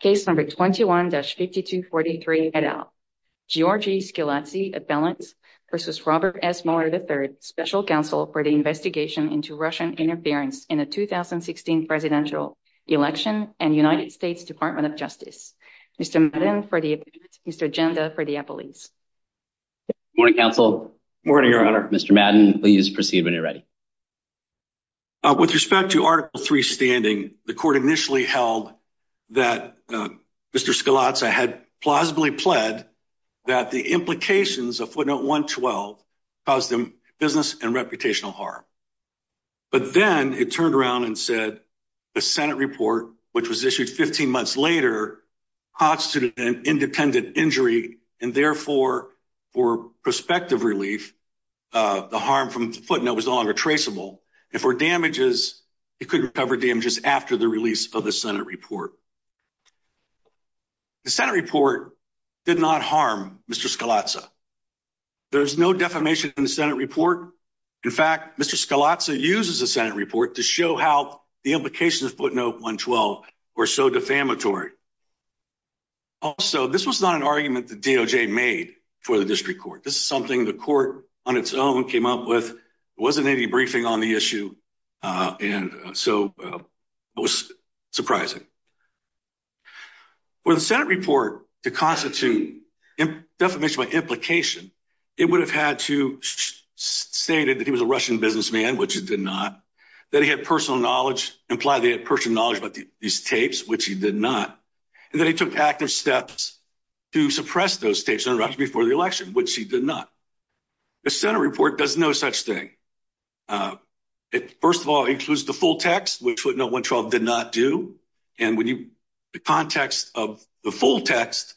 Case number 21-5243, Giorgi Rtskhiladze v. Robert S. Mueller, III, Special Counsel for the Investigation into Russian Interference in the 2016 Presidential Election and United States Department of Justice. Mr. Madden for the appearance, Mr. Genda for the appellees. Good morning, Counsel. Good morning, Your Honor. Mr. Madden, please proceed when you're ready. With respect to Article 3 standing, the Court initially held that Mr. Rtskhiladze had plausibly pled that the implications of Footnote 112 caused him business and reputational harm. But then it turned around and said the Senate report, which was issued 15 months later, constituted an independent injury, and therefore, for prospective relief, the harm from Footnote was no longer traceable. And for damages, he couldn't recover damages after the release of the Senate report. The Senate report did not harm Mr. Rtskhiladze. There's no defamation in the Senate report. In fact, Mr. Rtskhiladze uses the Senate report to show how the implications of Footnote 112 were so defamatory. Also, this was not an argument that DOJ made for the district court. This is something the court on its own came up with. There wasn't any briefing on the issue, and so it was surprising. For the Senate report to constitute defamation by implication, it would have had to state that he was a Russian businessman, which he did not, that he had personal knowledge, implied that he had personal knowledge about these tapes, which he did not, and that he took active steps to suppress those tapes before the election, which he did not. The Senate report does no such thing. It, first of all, includes the full text, which Footnote 112 did not do, and the context of the full text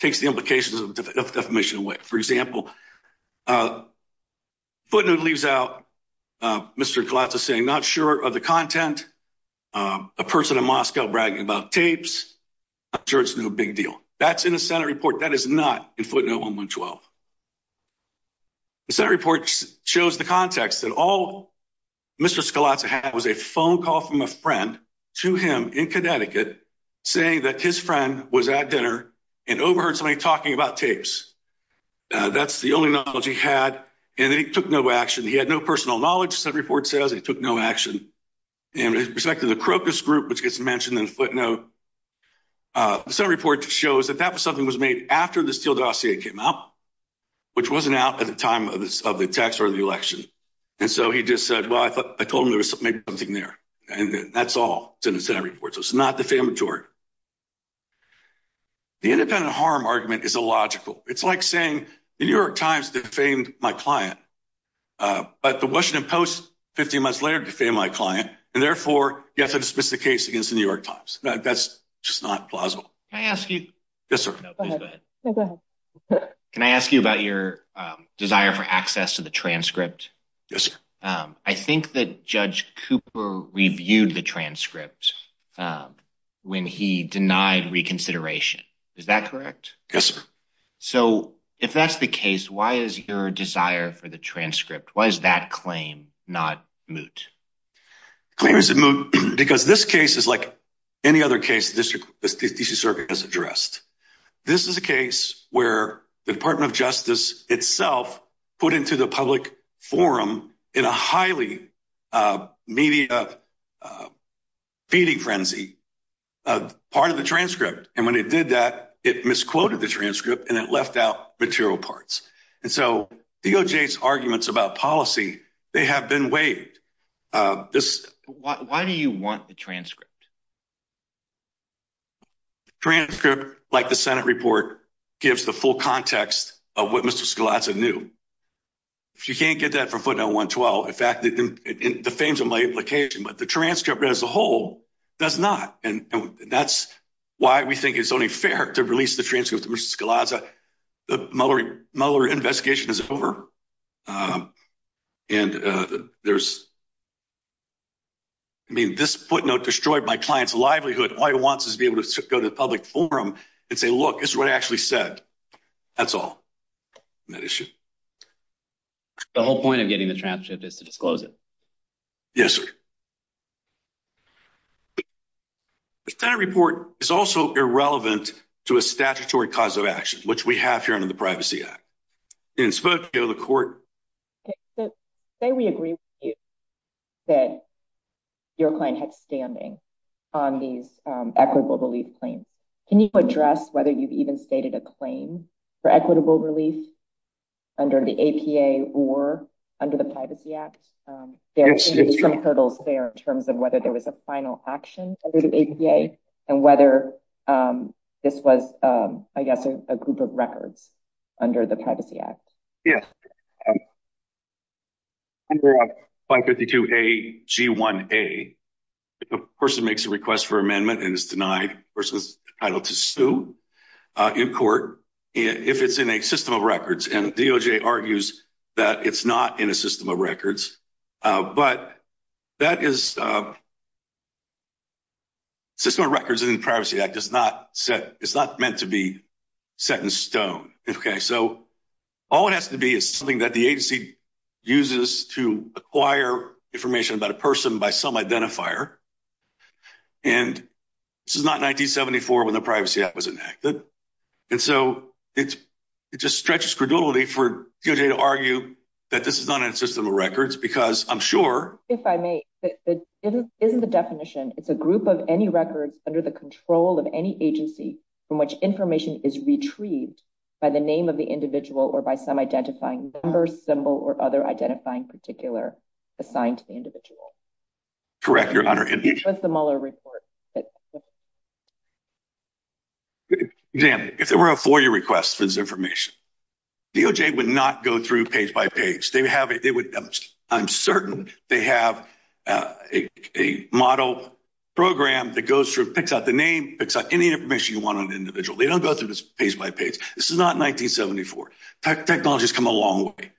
takes the implications of defamation away. For example, Footnote leaves out Mr. Rtskhiladze saying, not sure of the content, a person in Moscow bragging about tapes, not sure it's no big deal. That's in the Senate report. That is not in Footnote 112. The Senate report shows the context that all Mr. Rtskhiladze had was a phone call from a friend to him in Connecticut saying that his friend was at dinner and overheard somebody talking about tapes. That's the only knowledge he had, and he took no action. He had no personal knowledge, the Senate report says. He took no action. In respect to the Krokus group, which gets mentioned in Footnote, the Senate report shows that that was something that was made after the Steele dossier came out, which wasn't out at the time of the tax return of the election. And so he just said, well, I told him there was something there, and that's all. It's in the Senate report, so it's not defamatory. The independent harm argument is illogical. It's like saying the New York Times defamed my client, but the Washington Post 15 months later defamed my client, and therefore you have to dismiss the case against the New York Times. That's just not plausible. Can I ask you about your desire for access to the transcript? Yes. I think that Judge Cooper reviewed the transcript when he denied reconsideration. Is that correct? Yes, sir. So if that's the case, why is your desire for the transcript, why is that claim not moot? The claim is moot because this case is like any other case the District District District Circuit has addressed. This is a case where the Department of Justice itself put into the public forum in a highly media feeding frenzy part of the transcript. And when it did that, it misquoted the transcript, and it left out material parts. And so DOJ's arguments about policy, they have been waived. Why do you want the transcript? The transcript, like the Senate report, gives the full context of what Mr. Scalazza knew. If you can't get that from footnote 112, in fact, it defames my implication, but the transcript as a whole does not. And that's why we think it's only fair to release the transcript to Mr. Scalazza. The Mueller investigation is over. And there's I mean, this footnote destroyed my client's livelihood. All he wants is to be able to go to the public forum and say, look, this is what I actually said. That's all that issue. The whole point of getting the transcript is to disclose it. Yes, sir. That report is also irrelevant to a statutory cause of action, which we have here under the Privacy Act. And it's supposed to go to the court. Say we agree with you that your client had standing on these equitable relief claims. Can you address whether you've even stated a claim for equitable relief under the APA or under the Privacy Act? There are some hurdles there in terms of whether there was a final action under the APA and whether this was, I guess, a group of records under the Privacy Act. Yes. Under 552A-G1A, if a person makes a request for amendment and is denied, the person is entitled to sue in court if it's in a system of records. And DOJ argues that it's not in a system of records. But that is a system of records in the Privacy Act. Okay, so all it has to be is something that the agency uses to acquire information about a person by some identifier. And this is not 1974 when the Privacy Act was enacted. And so it just stretches credulity for DOJ to argue that this is not in a system of records because I'm sure… By the name of the individual or by some identifying number, symbol, or other identifying particular assigned to the individual. Correct, Your Honor. What's the Mueller report? If there were a FOIA request for this information, DOJ would not go through page by page. I'm certain they have a model program that goes through, picks out the name, picks out any information you want on the individual. They don't go through this page by page. This is 1974. Technology has come a long way.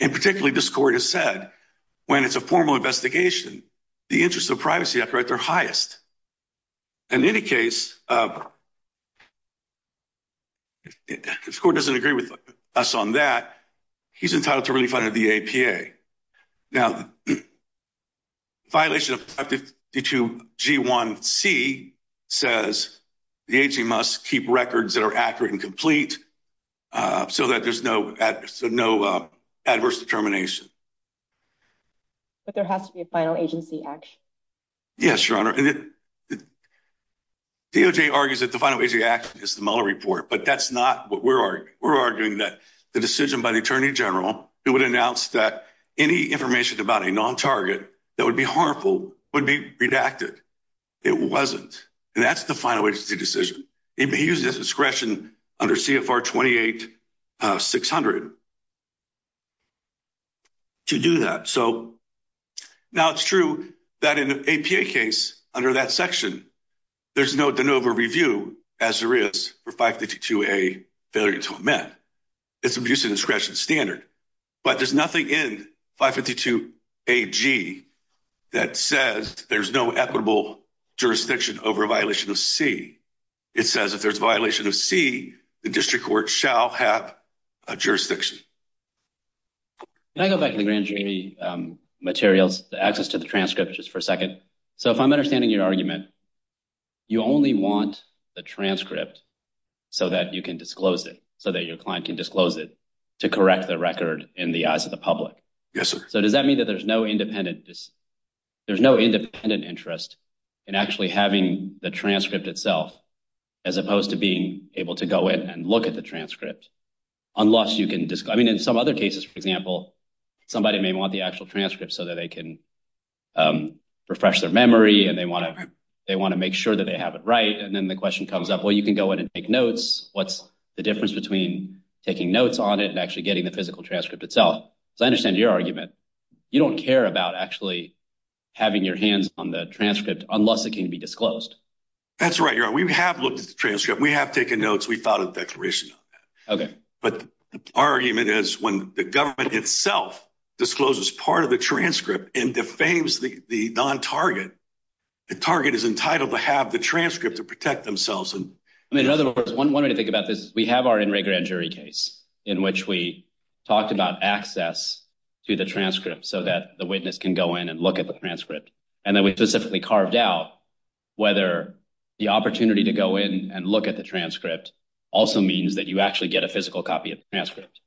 And particularly, this court has said, when it's a formal investigation, the interests of the Privacy Act are at their highest. In any case, if this court doesn't agree with us on that, he's entitled to relief under the APA. Now, the violation of 552 G1C says the agency must keep records that are accurate and complete so that there's no adverse determination. But there has to be a final agency action. Yes, Your Honor. DOJ argues that the final agency action is the Mueller report. But that's not what we're arguing. We're arguing that the decision by the Attorney General who would announce that any information about a non-target that would be harmful would be redacted. It wasn't. And that's the final agency decision. He used his discretion under CFR 28-600 to do that. So, now it's true that in the APA case, under that section, there's no de novo review, as there is for 552 A, failure to amend. It's abuse of discretion standard. But there's nothing in 552 AG that says there's no equitable jurisdiction over a violation of C. It says if there's a violation of C, the district court shall have a jurisdiction. Can I go back to the grand jury materials, the access to the transcript, just for a second? So, if I'm understanding your argument, you only want the transcript so that you can disclose it, so that your client can disclose it to correct the record in the eyes of the public. So, does that mean that there's no independent interest in actually having the transcript itself, as opposed to being able to go in and look at the transcript? I mean, in some other cases, for example, somebody may want the actual transcript so that they can refresh their memory, and they want to make sure that they have it right. And then the question comes up, well, you can go in and take notes. What's the difference between taking notes on it and actually getting the physical transcript itself? Because I understand your argument. You don't care about actually having your hands on the transcript unless it can be disclosed. That's right. We have looked at the transcript. We have taken notes. We filed a declaration on that. But our argument is when the government itself discloses part of the transcript and defames the non-target, the target is entitled to have the transcript to protect themselves. I mean, in other words, one way to think about this, we have our In Re Grand Jury case in which we talked about access to the transcript so that the witness can go in and look at the transcript. And then we specifically carved out whether the opportunity to go in and look at the transcript also means that you actually get a physical copy of the transcript.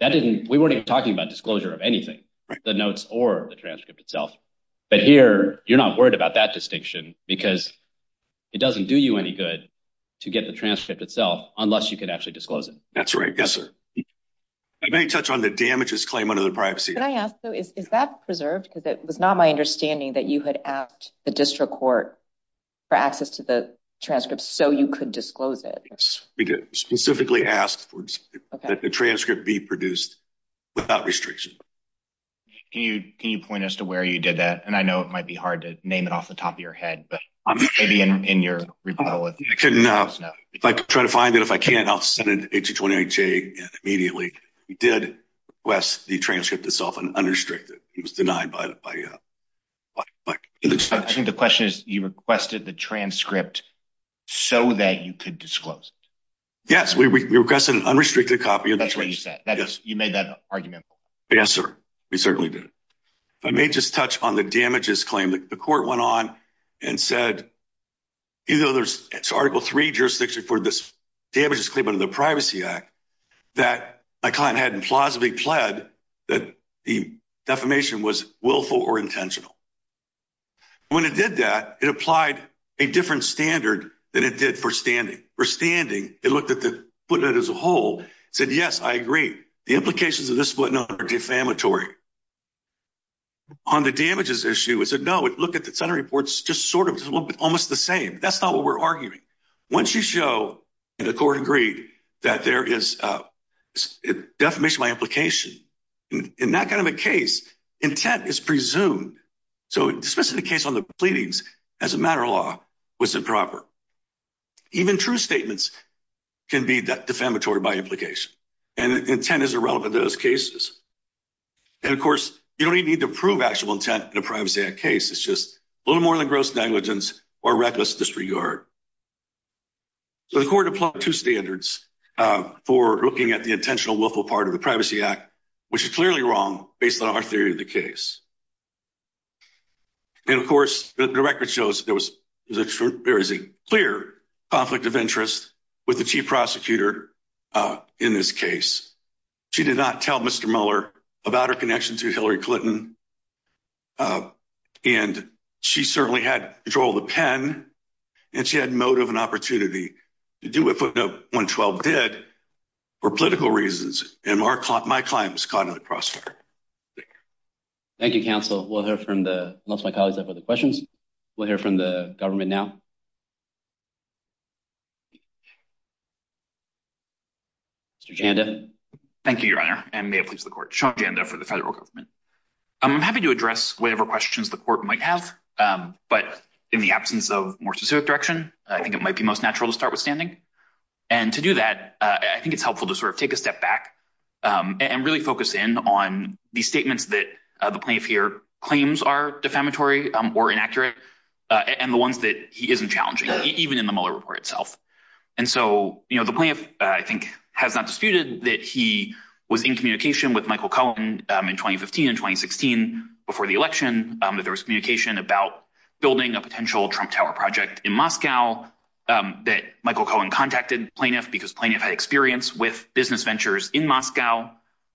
We weren't even talking about disclosure of anything, the notes or the transcript itself. But here, you're not worried about that distinction because it doesn't do you any good to get the transcript itself unless you can actually disclose it. That's right. Yes, sir. May I touch on the damages claim under the privacy act? Can I ask, though, is that preserved? Because it was not my understanding that you had asked the district court for access to the transcript so you could disclose it. Yes, we did specifically ask that the transcript be produced without restriction. Can you point us to where you did that? And I know it might be hard to name it off the top of your head, but maybe in your rebuttal. I can try to find it. If I can't, I'll send it to H-E-20-H-A immediately. We did request the transcript itself unrestricted. It was denied by the district. I think the question is, you requested the transcript so that you could disclose it. Yes, we requested an unrestricted copy of the transcript. That's what you said. You made that argument. Yes, sir. We certainly did. If I may just touch on the damages claim. The court went on and said, even though there's Article 3 jurisdiction for this damages claim under the privacy act, that my client hadn't plausibly pled that the defamation was willful or intentional. And when it did that, it applied a different standard than it did for standing. For standing, it looked at the footnote as a whole. It said, yes, I agree. The implications of this footnote are defamatory. On the damages issue, it said, no, it looked at the center reports just sort of almost the same. That's not what we're arguing. Once you show, and the court agreed, that there is defamation by implication, in that kind of a case, intent is presumed. So dismissing the case on the pleadings as a matter of law was improper. Even true statements can be defamatory by implication. And intent is irrelevant to those cases. And of course, you don't even need to prove actual intent in a privacy act case. It's just a little more than gross negligence or reckless disregard. So the court applied two standards for looking at the intentional willful part of the Privacy Act, which is clearly wrong based on our theory of the case. And of course, the record shows there is a clear conflict of interest with the chief prosecutor in this case. She did not tell Mr. Mueller about her connection to Hillary Clinton. And she certainly had control of the pen. And she had motive and opportunity to do what footnote 112 did for political reasons. And my client was caught in the crossfire. Thank you, counsel. We'll hear from the, unless my colleagues have other questions, we'll hear from the government now. Mr. Janda. Thank you, your honor. And may it please the court. Sean Janda for the federal government. I'm happy to address whatever questions the court might have. But in the absence of more specific direction, I think it might be most natural to start with standing. And to do that, I think it's helpful to sort of take a step back and really focus in on the statements that the plaintiff here claims are defamatory or inaccurate. And the ones that he isn't challenging, even in the Mueller report itself. And so, you know, the plaintiff, I think, has not disputed that he was in communication with Michael Cohen in 2015 and 2016 before the election. There was communication about building a potential Trump Tower project in Moscow that Michael Cohen contacted plaintiff because plaintiff had experience with business ventures in Moscow.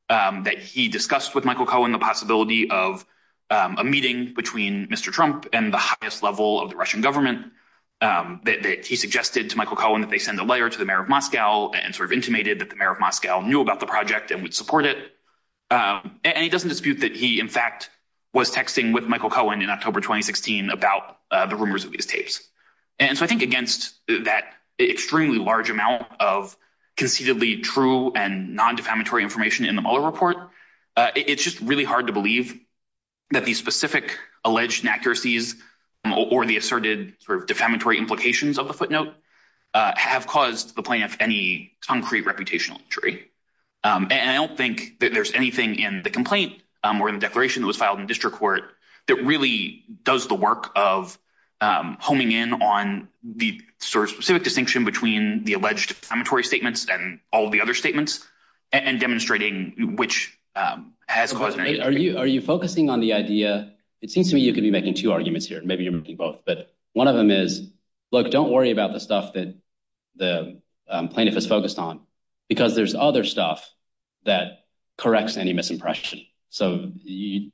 That he discussed with Michael Cohen the possibility of a meeting between Mr. Trump and the highest level of the Russian government. That he suggested to Michael Cohen that they send a letter to the mayor of Moscow and sort of intimated that the mayor of Moscow knew about the project and would support it. And he doesn't dispute that he, in fact, was texting with Michael Cohen in October 2016 about the rumors of these tapes. And so I think against that extremely large amount of concededly true and non-defamatory information in the Mueller report, it's just really hard to believe that these specific alleged inaccuracies or the asserted defamatory implications of the footnote have caused the plaintiff any concrete reputational injury. And I don't think that there's anything in the complaint or in the declaration that was filed in district court that really does the work of homing in on the specific distinction between the alleged defamatory statements and all of the other statements and demonstrating which has caused… Are you focusing on the idea? It seems to me you could be making two arguments here. Maybe you're making both. But one of them is, look, don't worry about the stuff that the plaintiff is focused on because there's other stuff that corrects any misimpression. So,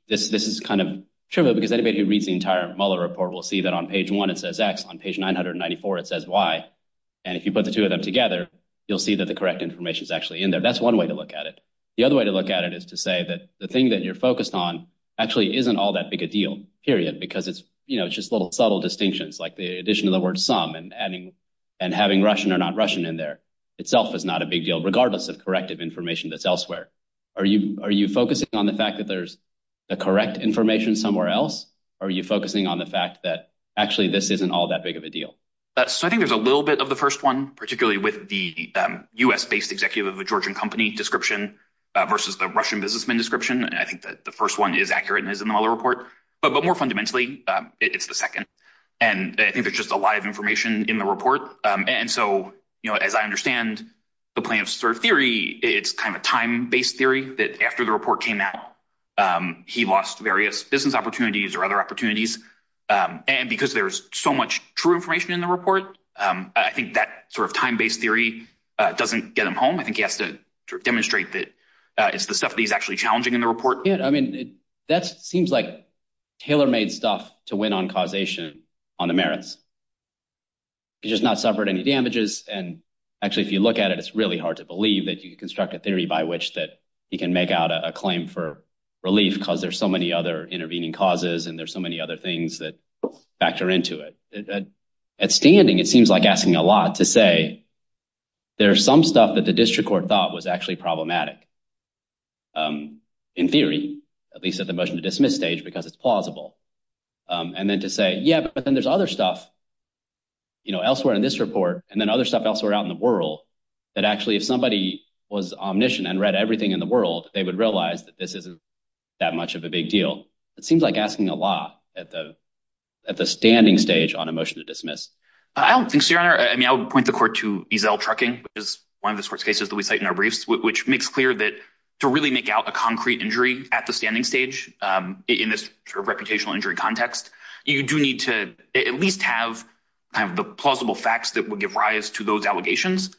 this is kind of trivial because anybody who reads the entire Mueller report will see that on page one it says X, on page 994 it says Y. And if you put the two of them together, you'll see that the correct information is actually in there. That's one way to look at it. The other way to look at it is to say that the thing that you're focused on actually isn't all that big a deal, period, because it's just little subtle distinctions like the addition of the word some and having Russian or not Russian in there itself is not a big deal, regardless of corrective information that's elsewhere. Are you focusing on the fact that there's the correct information somewhere else, or are you focusing on the fact that actually this isn't all that big of a deal? So, I think there's a little bit of the first one, particularly with the U.S.-based executive of a Georgian company description versus the Russian businessman description. I think that the first one is accurate and is in the Mueller report. But more fundamentally, it's the second. And I think there's just a lot of information in the report. And so, as I understand the plaintiff's theory, it's kind of a time-based theory that after the report came out, he lost various business opportunities or other opportunities. And because there's so much true information in the report, I think that sort of time-based theory doesn't get him home. I think he has to demonstrate that it's the stuff that he's actually challenging in the report. Yeah, I mean, that seems like tailor-made stuff to win on causation on the merits. He's just not suffered any damages. And actually, if you look at it, it's really hard to believe that you can construct a theory by which that he can make out a claim for relief because there's so many other intervening causes and there's so many other things that factor into it. At standing, it seems like asking a lot to say there's some stuff that the district court thought was actually problematic in theory, at least at the motion to dismiss stage, because it's plausible. And then to say, yeah, but then there's other stuff elsewhere in this report and then other stuff elsewhere out in the world that actually if somebody was omniscient and read everything in the world, they would realize that this isn't that much of a big deal. It seems like asking a lot at the standing stage on a motion to dismiss. I don't think so, Your Honor. I mean, I would point the court to EZL trucking, which is one of the sorts of cases that we cite in our briefs, which makes clear that to really make out a concrete injury at the standing stage in this reputational injury context, you do need to at least have kind of the plausible facts that would give rise to those allegations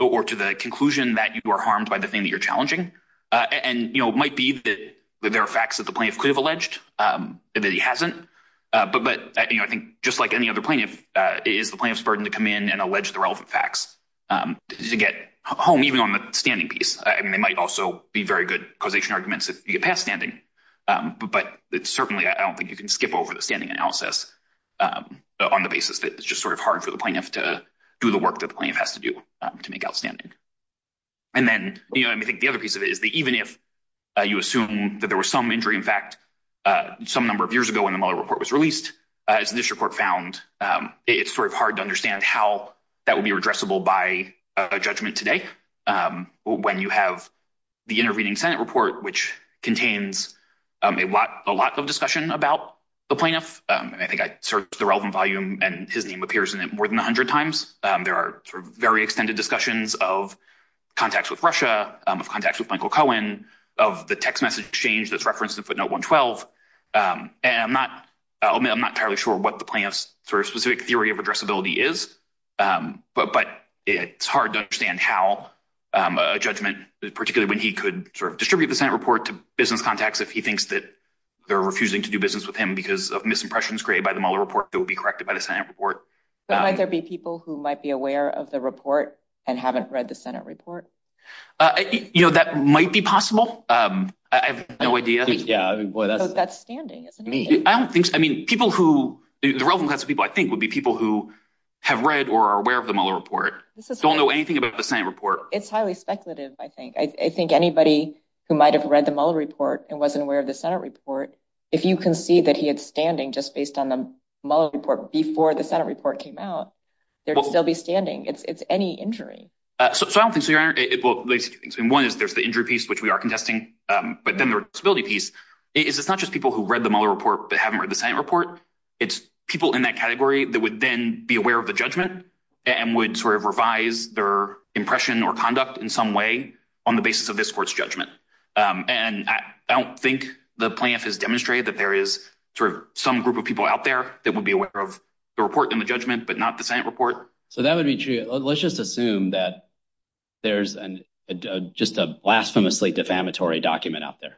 or to the conclusion that you are harmed by the thing that you're challenging. And it might be that there are facts that the plaintiff could have alleged that he hasn't. But I think just like any other plaintiff, it is the plaintiff's burden to come in and allege the relevant facts to get home, even on the standing piece. I mean, they might also be very good causation arguments if you get past standing, but certainly I don't think you can skip over the standing analysis on the basis that it's just sort of hard for the plaintiff to do the work that the plaintiff has to do to make outstanding. And then, you know, I think the other piece of it is that even if you assume that there was some injury, in fact, some number of years ago when the Mueller report was released, as this report found, it's sort of hard to understand how that would be addressable by a judgment today. When you have the intervening Senate report, which contains a lot of discussion about the plaintiff, and I think I searched the relevant volume and his name appears in it more than 100 times. There are very extended discussions of contacts with Russia, contacts with Michael Cohen, of the text message exchange that's referenced in footnote 112. And I'm not entirely sure what the plaintiff's sort of specific theory of addressability is, but it's hard to understand how a judgment, particularly when he could sort of distribute the Senate report to business contacts if he thinks that they're refusing to do business with him because of misimpressions created by the Mueller report that would be corrected by the Senate report. But might there be people who might be aware of the report and haven't read the Senate report? You know, that might be possible. I have no idea. Yeah, that's standing. I don't think so. I mean, people who the relevant people, I think, would be people who have read or are aware of the Mueller report. Don't know anything about the same report. It's highly speculative. I think I think anybody who might have read the Mueller report and wasn't aware of the Senate report. If you can see that he had standing just based on the Mueller report before the Senate report came out, there'd still be standing. It's any injury. So, I don't think so. You're right. And one is there's the injury piece, which we are contesting, but then the disability piece is it's not just people who read the Mueller report, but haven't read the Senate report. It's people in that category that would then be aware of the judgment and would sort of revise their impression or conduct in some way on the basis of this court's judgment. And I don't think the plaintiff has demonstrated that there is sort of some group of people out there that would be aware of the report and the judgment, but not the Senate report. So, that would be true. Let's just assume that there's just a blasphemously defamatory document out there.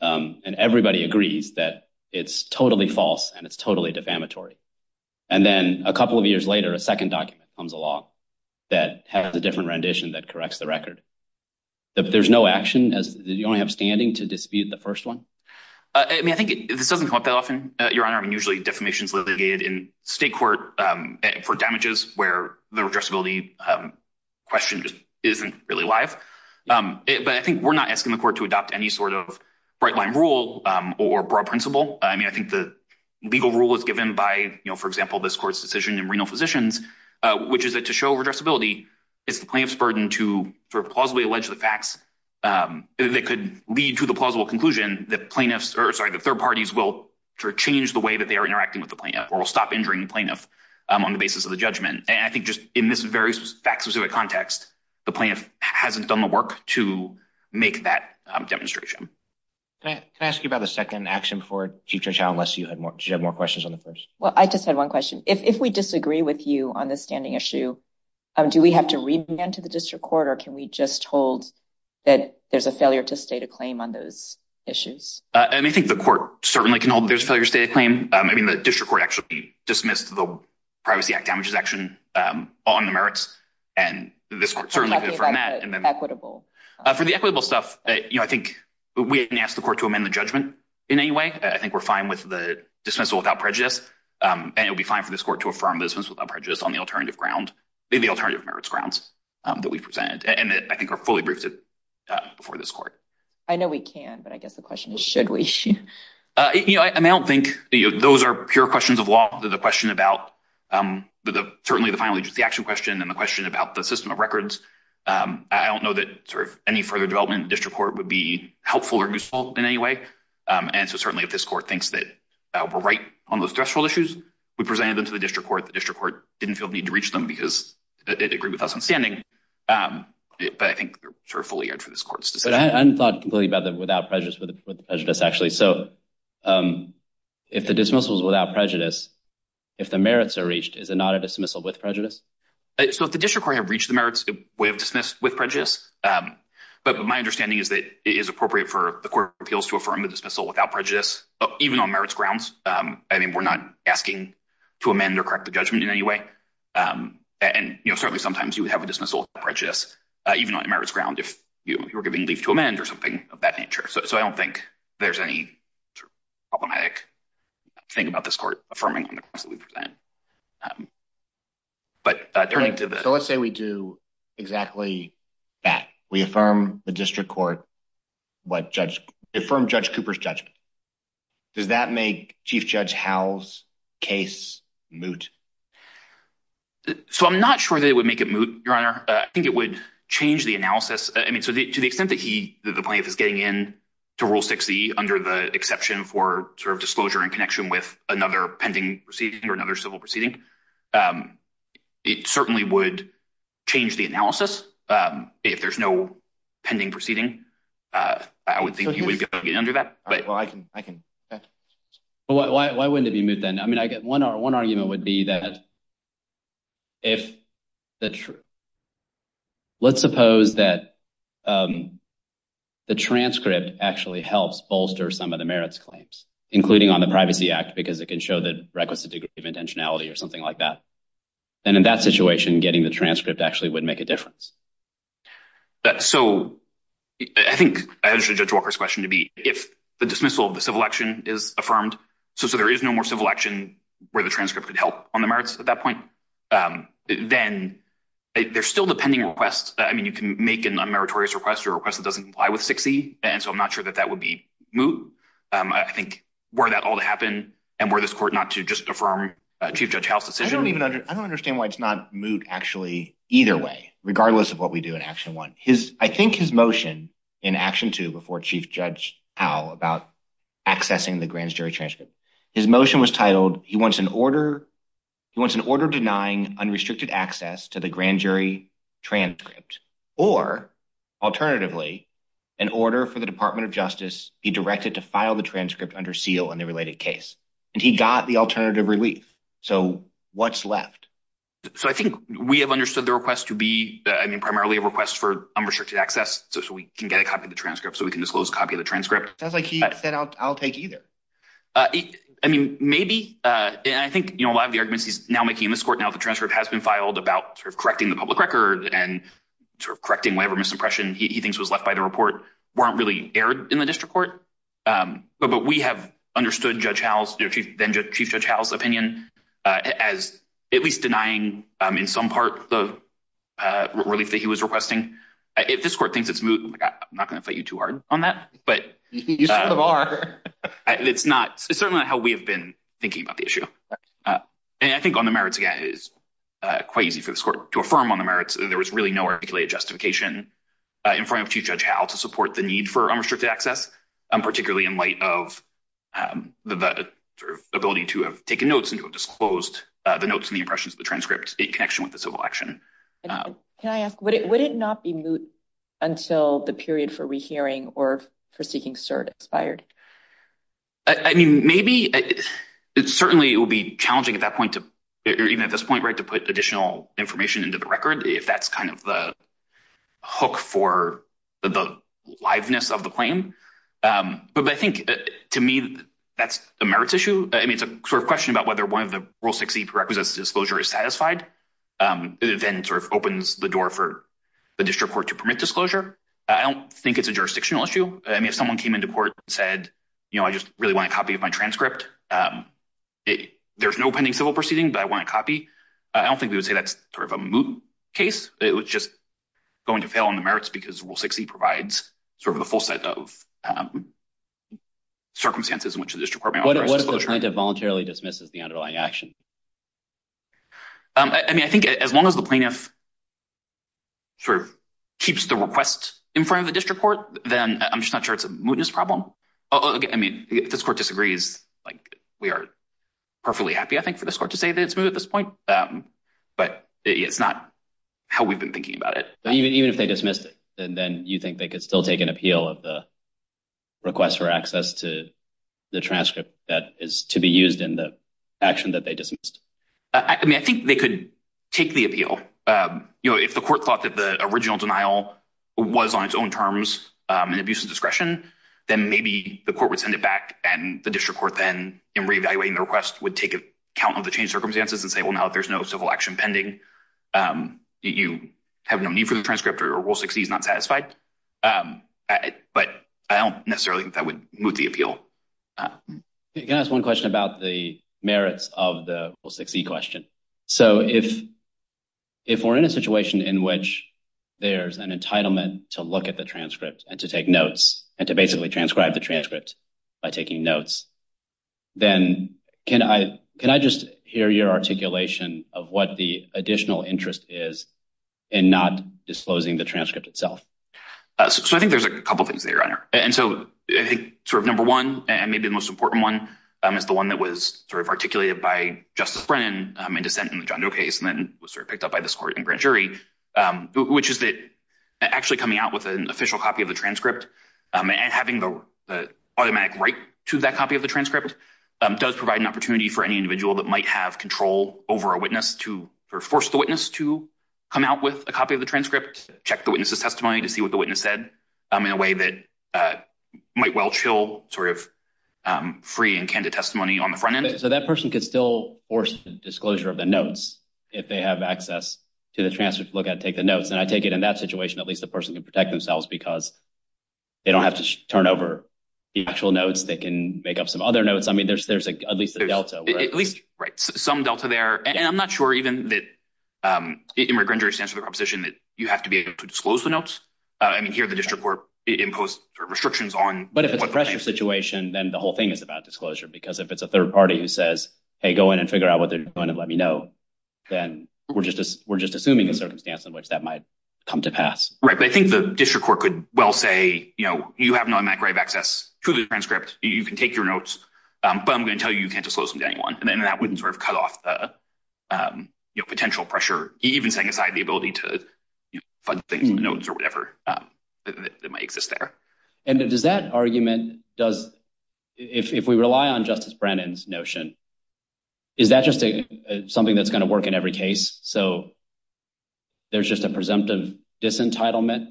And everybody agrees that it's totally false and it's totally defamatory. And then a couple of years later, a second document comes along that has a different rendition that corrects the record. There's no action as you only have standing to dispute the first one. I mean, I think this doesn't come up that often, Your Honor. I mean, usually defamation is litigated in state court for damages where the addressability question just isn't really live. But I think we're not asking the court to adopt any sort of bright-line rule or broad principle. I mean, I think the legal rule is given by, for example, this court's decision in renal physicians, which is that to show addressability, it's the plaintiff's burden to plausibly allege the facts. That could lead to the plausible conclusion that the third parties will change the way that they are interacting with the plaintiff or will stop injuring the plaintiff on the basis of the judgment. And I think just in this very fact-specific context, the plaintiff hasn't done the work to make that demonstration. Can I ask you about the second action before Chief Judge Howell, unless you had more questions on the first? Well, I just had one question. If we disagree with you on this standing issue, do we have to remand to the district court, or can we just hold that there's a failure to state a claim on those issues? I think the court certainly can hold that there's a failure to state a claim. I mean, the district court actually dismissed the Privacy Act damages action on the merits, and this court certainly could affirm that. For the equitable stuff, I think we didn't ask the court to amend the judgment in any way. I think we're fine with the dismissal without prejudice, and it would be fine for this court to affirm the dismissal without prejudice on the alternative merits grounds that we presented, and I think are fully briefed before this court. I know we can, but I guess the question is, should we? You know, I don't think those are pure questions of law. The question about the final agency action question and the question about the system of records. I don't know that any further development in the district court would be helpful or useful in any way, and so certainly if this court thinks that we're right on those threshold issues, we presented them to the district court. The district court didn't feel the need to reach them because it agreed with us on standing, but I think they're fully aired for this court's decision. But I hadn't thought completely about the without prejudice with prejudice, actually. So if the dismissal is without prejudice, if the merits are reached, is it not a dismissal with prejudice? So if the district court had reached the merits, we have dismissed with prejudice, but my understanding is that it is appropriate for the court of appeals to affirm the dismissal without prejudice, even on merits grounds. I mean, we're not asking to amend or correct the judgment in any way, and certainly sometimes you would have a dismissal without prejudice, even on merits ground if you were giving leave to amend or something of that nature. So I don't think there's any problematic thing about this court affirming on the grounds that we present. But let's say we do exactly that. We affirm the district court. What judge from Judge Cooper's judgment. Does that make Chief Judge house case moot? So I'm not sure they would make it moot. Your honor. I think it would change the analysis. I mean, to the extent that he the plaintiff is getting in to rule 60 under the exception for sort of disclosure and connection with another pending proceeding or another civil proceeding. It certainly would change the analysis if there's no pending proceeding. I would think you would get under that. But I can I can. Why wouldn't it be moot then? I mean, I get 1 hour. 1 argument would be that. If that's true, let's suppose that the transcript actually helps bolster some of the merits claims, including on the privacy act, because it can show the requisite degree of intentionality or something like that. And in that situation, getting the transcript actually would make a difference. So, I think Judge Walker's question to be, if the dismissal of the civil action is affirmed. So, so there is no more civil action where the transcript could help on the merits at that point. Then there's still the pending request. I mean, you can make an unmeritorious request or request that doesn't comply with 60. And so I'm not sure that that would be moot. I think, were that all to happen and where this court not to just affirm Chief Judge House decision. I don't even I don't understand why it's not moot actually either way, regardless of what we do in action 1, his, I think his motion in action 2 before Chief Judge. How about accessing the grand jury transcript his motion was titled. He wants an order. He wants an order denying unrestricted access to the grand jury transcript or alternatively, an order for the Department of Justice be directed to file the transcript under seal and the related case, and he got the alternative relief. So what's left. So, I think we have understood the request to be, I mean, primarily a request for unrestricted access. So, so we can get a copy of the transcript. So we can disclose copy of the transcript. That's like, he said, I'll take either. I mean, maybe, and I think a lot of the arguments he's now making in this court now, the transcript has been filed about sort of correcting the public record and sort of correcting whatever misimpression he thinks was left by the report weren't really aired in the district court. But we have understood Judge House, then Chief Judge House opinion as at least denying in some part of relief that he was requesting. If this court thinks it's not going to fight you too hard on that, but it's not certainly how we have been thinking about the issue. And I think on the merits, again, is quite easy for this court to affirm on the merits. There was really no articulated justification in front of to judge how to support the need for unrestricted access, particularly in light of the ability to have taken notes and disclosed the notes and the impressions of the transcript in connection with the civil action. Can I ask, would it would it not be until the period for rehearing or for seeking cert expired? I mean, maybe it's certainly it will be challenging at that point to even at this point, right? To put additional information into the record. If that's kind of the hook for the liveness of the claim. But I think to me, that's the merits issue. I mean, it's a sort of question about whether one of the rule 60 prerequisites disclosure is satisfied, then sort of opens the door for the district court to permit disclosure. I don't think it's a jurisdictional issue. I mean, if someone came into court said, you know, I just really want a copy of my transcript. There's no pending civil proceeding, but I want a copy. I don't think we would say that's sort of a case. It was just going to fail on the merits because we'll succeed provides sort of the full set of circumstances in which the district court voluntarily dismisses the underlying action. I mean, I think as long as the plaintiff sort of keeps the request in front of the district court, then I'm just not sure it's a mootness problem. I mean, if this court disagrees, like, we are perfectly happy, I think, for this court to say that it's moved at this point, but it's not how we've been thinking about it. Even if they dismissed it, then you think they could still take an appeal of the request for access to the transcript that is to be used in the action that they dismissed? I mean, I think they could take the appeal. You know, if the court thought that the original denial was on its own terms and abuse of discretion, then maybe the court would send it back and the district court then in reevaluating the request would take account of the change circumstances and say, well, now, if there's no civil action pending, you have no need for the transcript or will succeed not satisfied. But I don't necessarily think that would move the appeal. Can I ask one question about the merits of the will succeed question? So if if we're in a situation in which there's an entitlement to look at the transcript and to take notes and to basically transcribe the transcript by taking notes, then can I can I just hear your articulation of what the additional interest is and not disclosing the transcript itself? So I think there's a couple of things there. And so I think sort of number one, and maybe the most important one is the one that was sort of articulated by Justice Brennan in dissent in the John Doe case, and then was sort of picked up by this court and grand jury, which is that actually coming out with an official copy of the transcript and having the automatic right to that copy of the transcript does provide an opportunity for any individual that might have control over a witness to force the witness to come out with a copy of the transcript, check the witness's testimony to see what the witness said in a way that might well chill sort of free and candid testimony on the front end. So that person could still force disclosure of the notes if they have access to the transcript, look at, take the notes. And I take it in that situation. At least the person can protect themselves because they don't have to turn over actual notes. They can make up some other notes. I mean, there's there's at least a Delta, at least some Delta there. And I'm not sure even that you have to be able to disclose the notes. I mean, here, the district court imposed restrictions on. But if it's a pressure situation, then the whole thing is about disclosure, because if it's a third party who says, hey, go in and figure out what they're going to let me know, then we're just we're just assuming a circumstance in which that might come to pass. Right. But I think the district court could well say, you know, you have no access to the transcript. You can take your notes. But I'm going to tell you, you can't disclose them to anyone. And then that wouldn't sort of cut off the potential pressure, even setting aside the ability to find notes or whatever that might exist there. And does that argument does if we rely on Justice Brennan's notion, is that just something that's going to work in every case? So there's just a presumptive disentitlement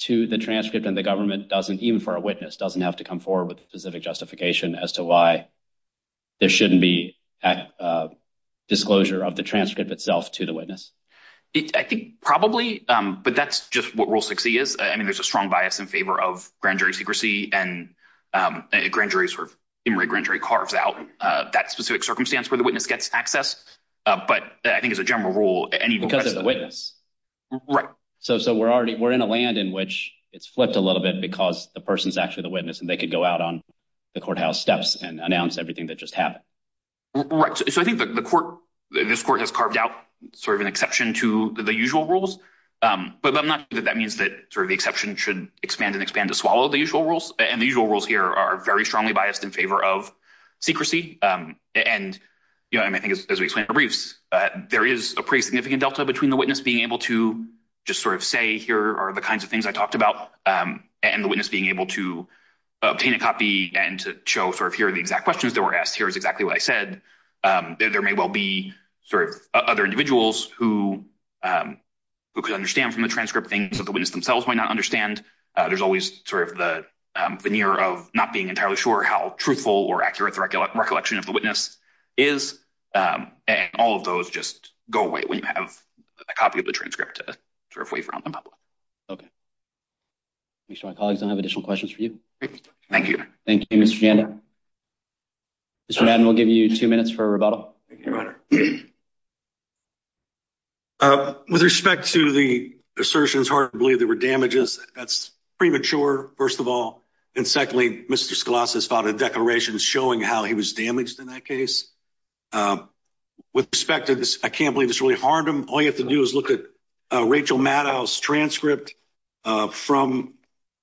to the transcript. And the government doesn't even for a witness doesn't have to come forward with a specific justification as to why there shouldn't be disclosure of the transcript itself to the witness. I think probably, but that's just what rule 60 is. I mean, there's a strong bias in favor of grand jury secrecy and grand jury sort of grand jury carves out that specific circumstance where the witness gets access. But I think as a general rule, any because of the witness. Right. So we're already we're in a land in which it's flipped a little bit because the person is actually the witness, and they could go out on the courthouse steps and announce everything that just happened. Right. So I think the court, this court has carved out sort of an exception to the usual rules. But I'm not that that means that sort of the exception should expand and expand to swallow the usual rules. And the usual rules here are very strongly biased in favor of secrecy. And, you know, I think, as we explain the briefs, there is a pretty significant delta between the witness being able to just sort of say, here are the kinds of things I talked about. And the witness being able to obtain a copy and to show sort of here are the exact questions that were asked. Here's exactly what I said. There may well be sort of other individuals who could understand from the transcript things that the witness themselves might not understand. There's always sort of the veneer of not being entirely sure how truthful or accurate recollection of the witness is. And all of those just go away when you have a copy of the transcript. Okay. My colleagues don't have additional questions for you. Thank you. Thank you. We'll give you two minutes for a rebuttal. With respect to the assertions, hard to believe there were damages. That's premature, first of all. And secondly, Mr. Scalise has filed a declaration showing how he was damaged in that case. With respect to this, I can't believe it's really hard. All you have to do is look at Rachel Maddow's transcript. From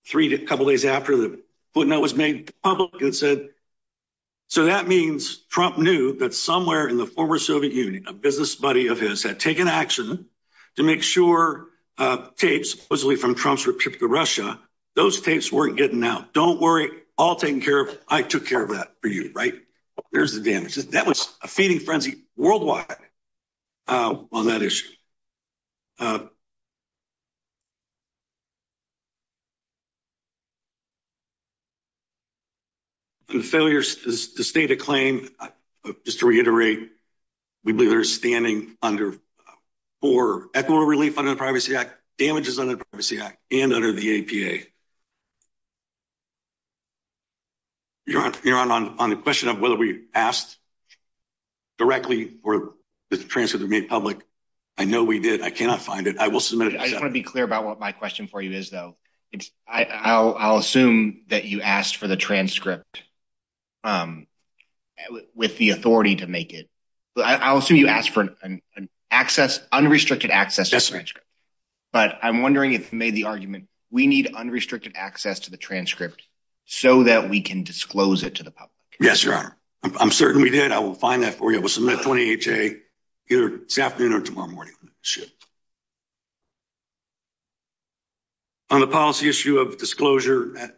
three to a couple of days after the footnote was made public, it said, so that means Trump knew that somewhere in the former Soviet Union, a business buddy of his had taken action to make sure tapes, supposedly from Trump's trip to Russia, those tapes weren't getting out. Don't worry. All taken care of. I took care of that for you. Right. There's the damage. That was a feeding frenzy worldwide on that issue. The failure to state a claim, just to reiterate, we believe they're standing under for echo relief under the Privacy Act, damages under the Privacy Act and under the APA. You're on the question of whether we asked directly for the transcript to be made public. I know we did. I cannot find it. I will submit it. I want to be clear about what my question is. My question for you is, though, it's I'll assume that you asked for the transcript with the authority to make it. I'll assume you asked for an access, unrestricted access. But I'm wondering if made the argument we need unrestricted access to the transcript so that we can disclose it to the public. Yes, your honor. I'm certain we did. I will find that for you. I will submit 28-A either this afternoon or tomorrow morning. On the policy issue of disclosure,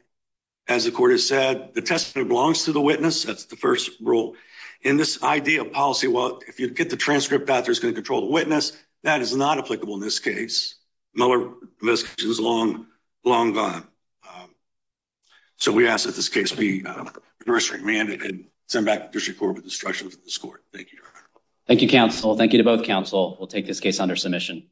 as the court has said, the testimony belongs to the witness. That's the first rule in this idea of policy. Well, if you get the transcript out, there's going to control the witness. That is not applicable in this case. Miller investigation is long, long gone. So we ask that this case be remanded and sent back to the district court with instructions from this court. Thank you, your honor. Thank you, counsel. Thank you to both counsel. We'll take this case under submission.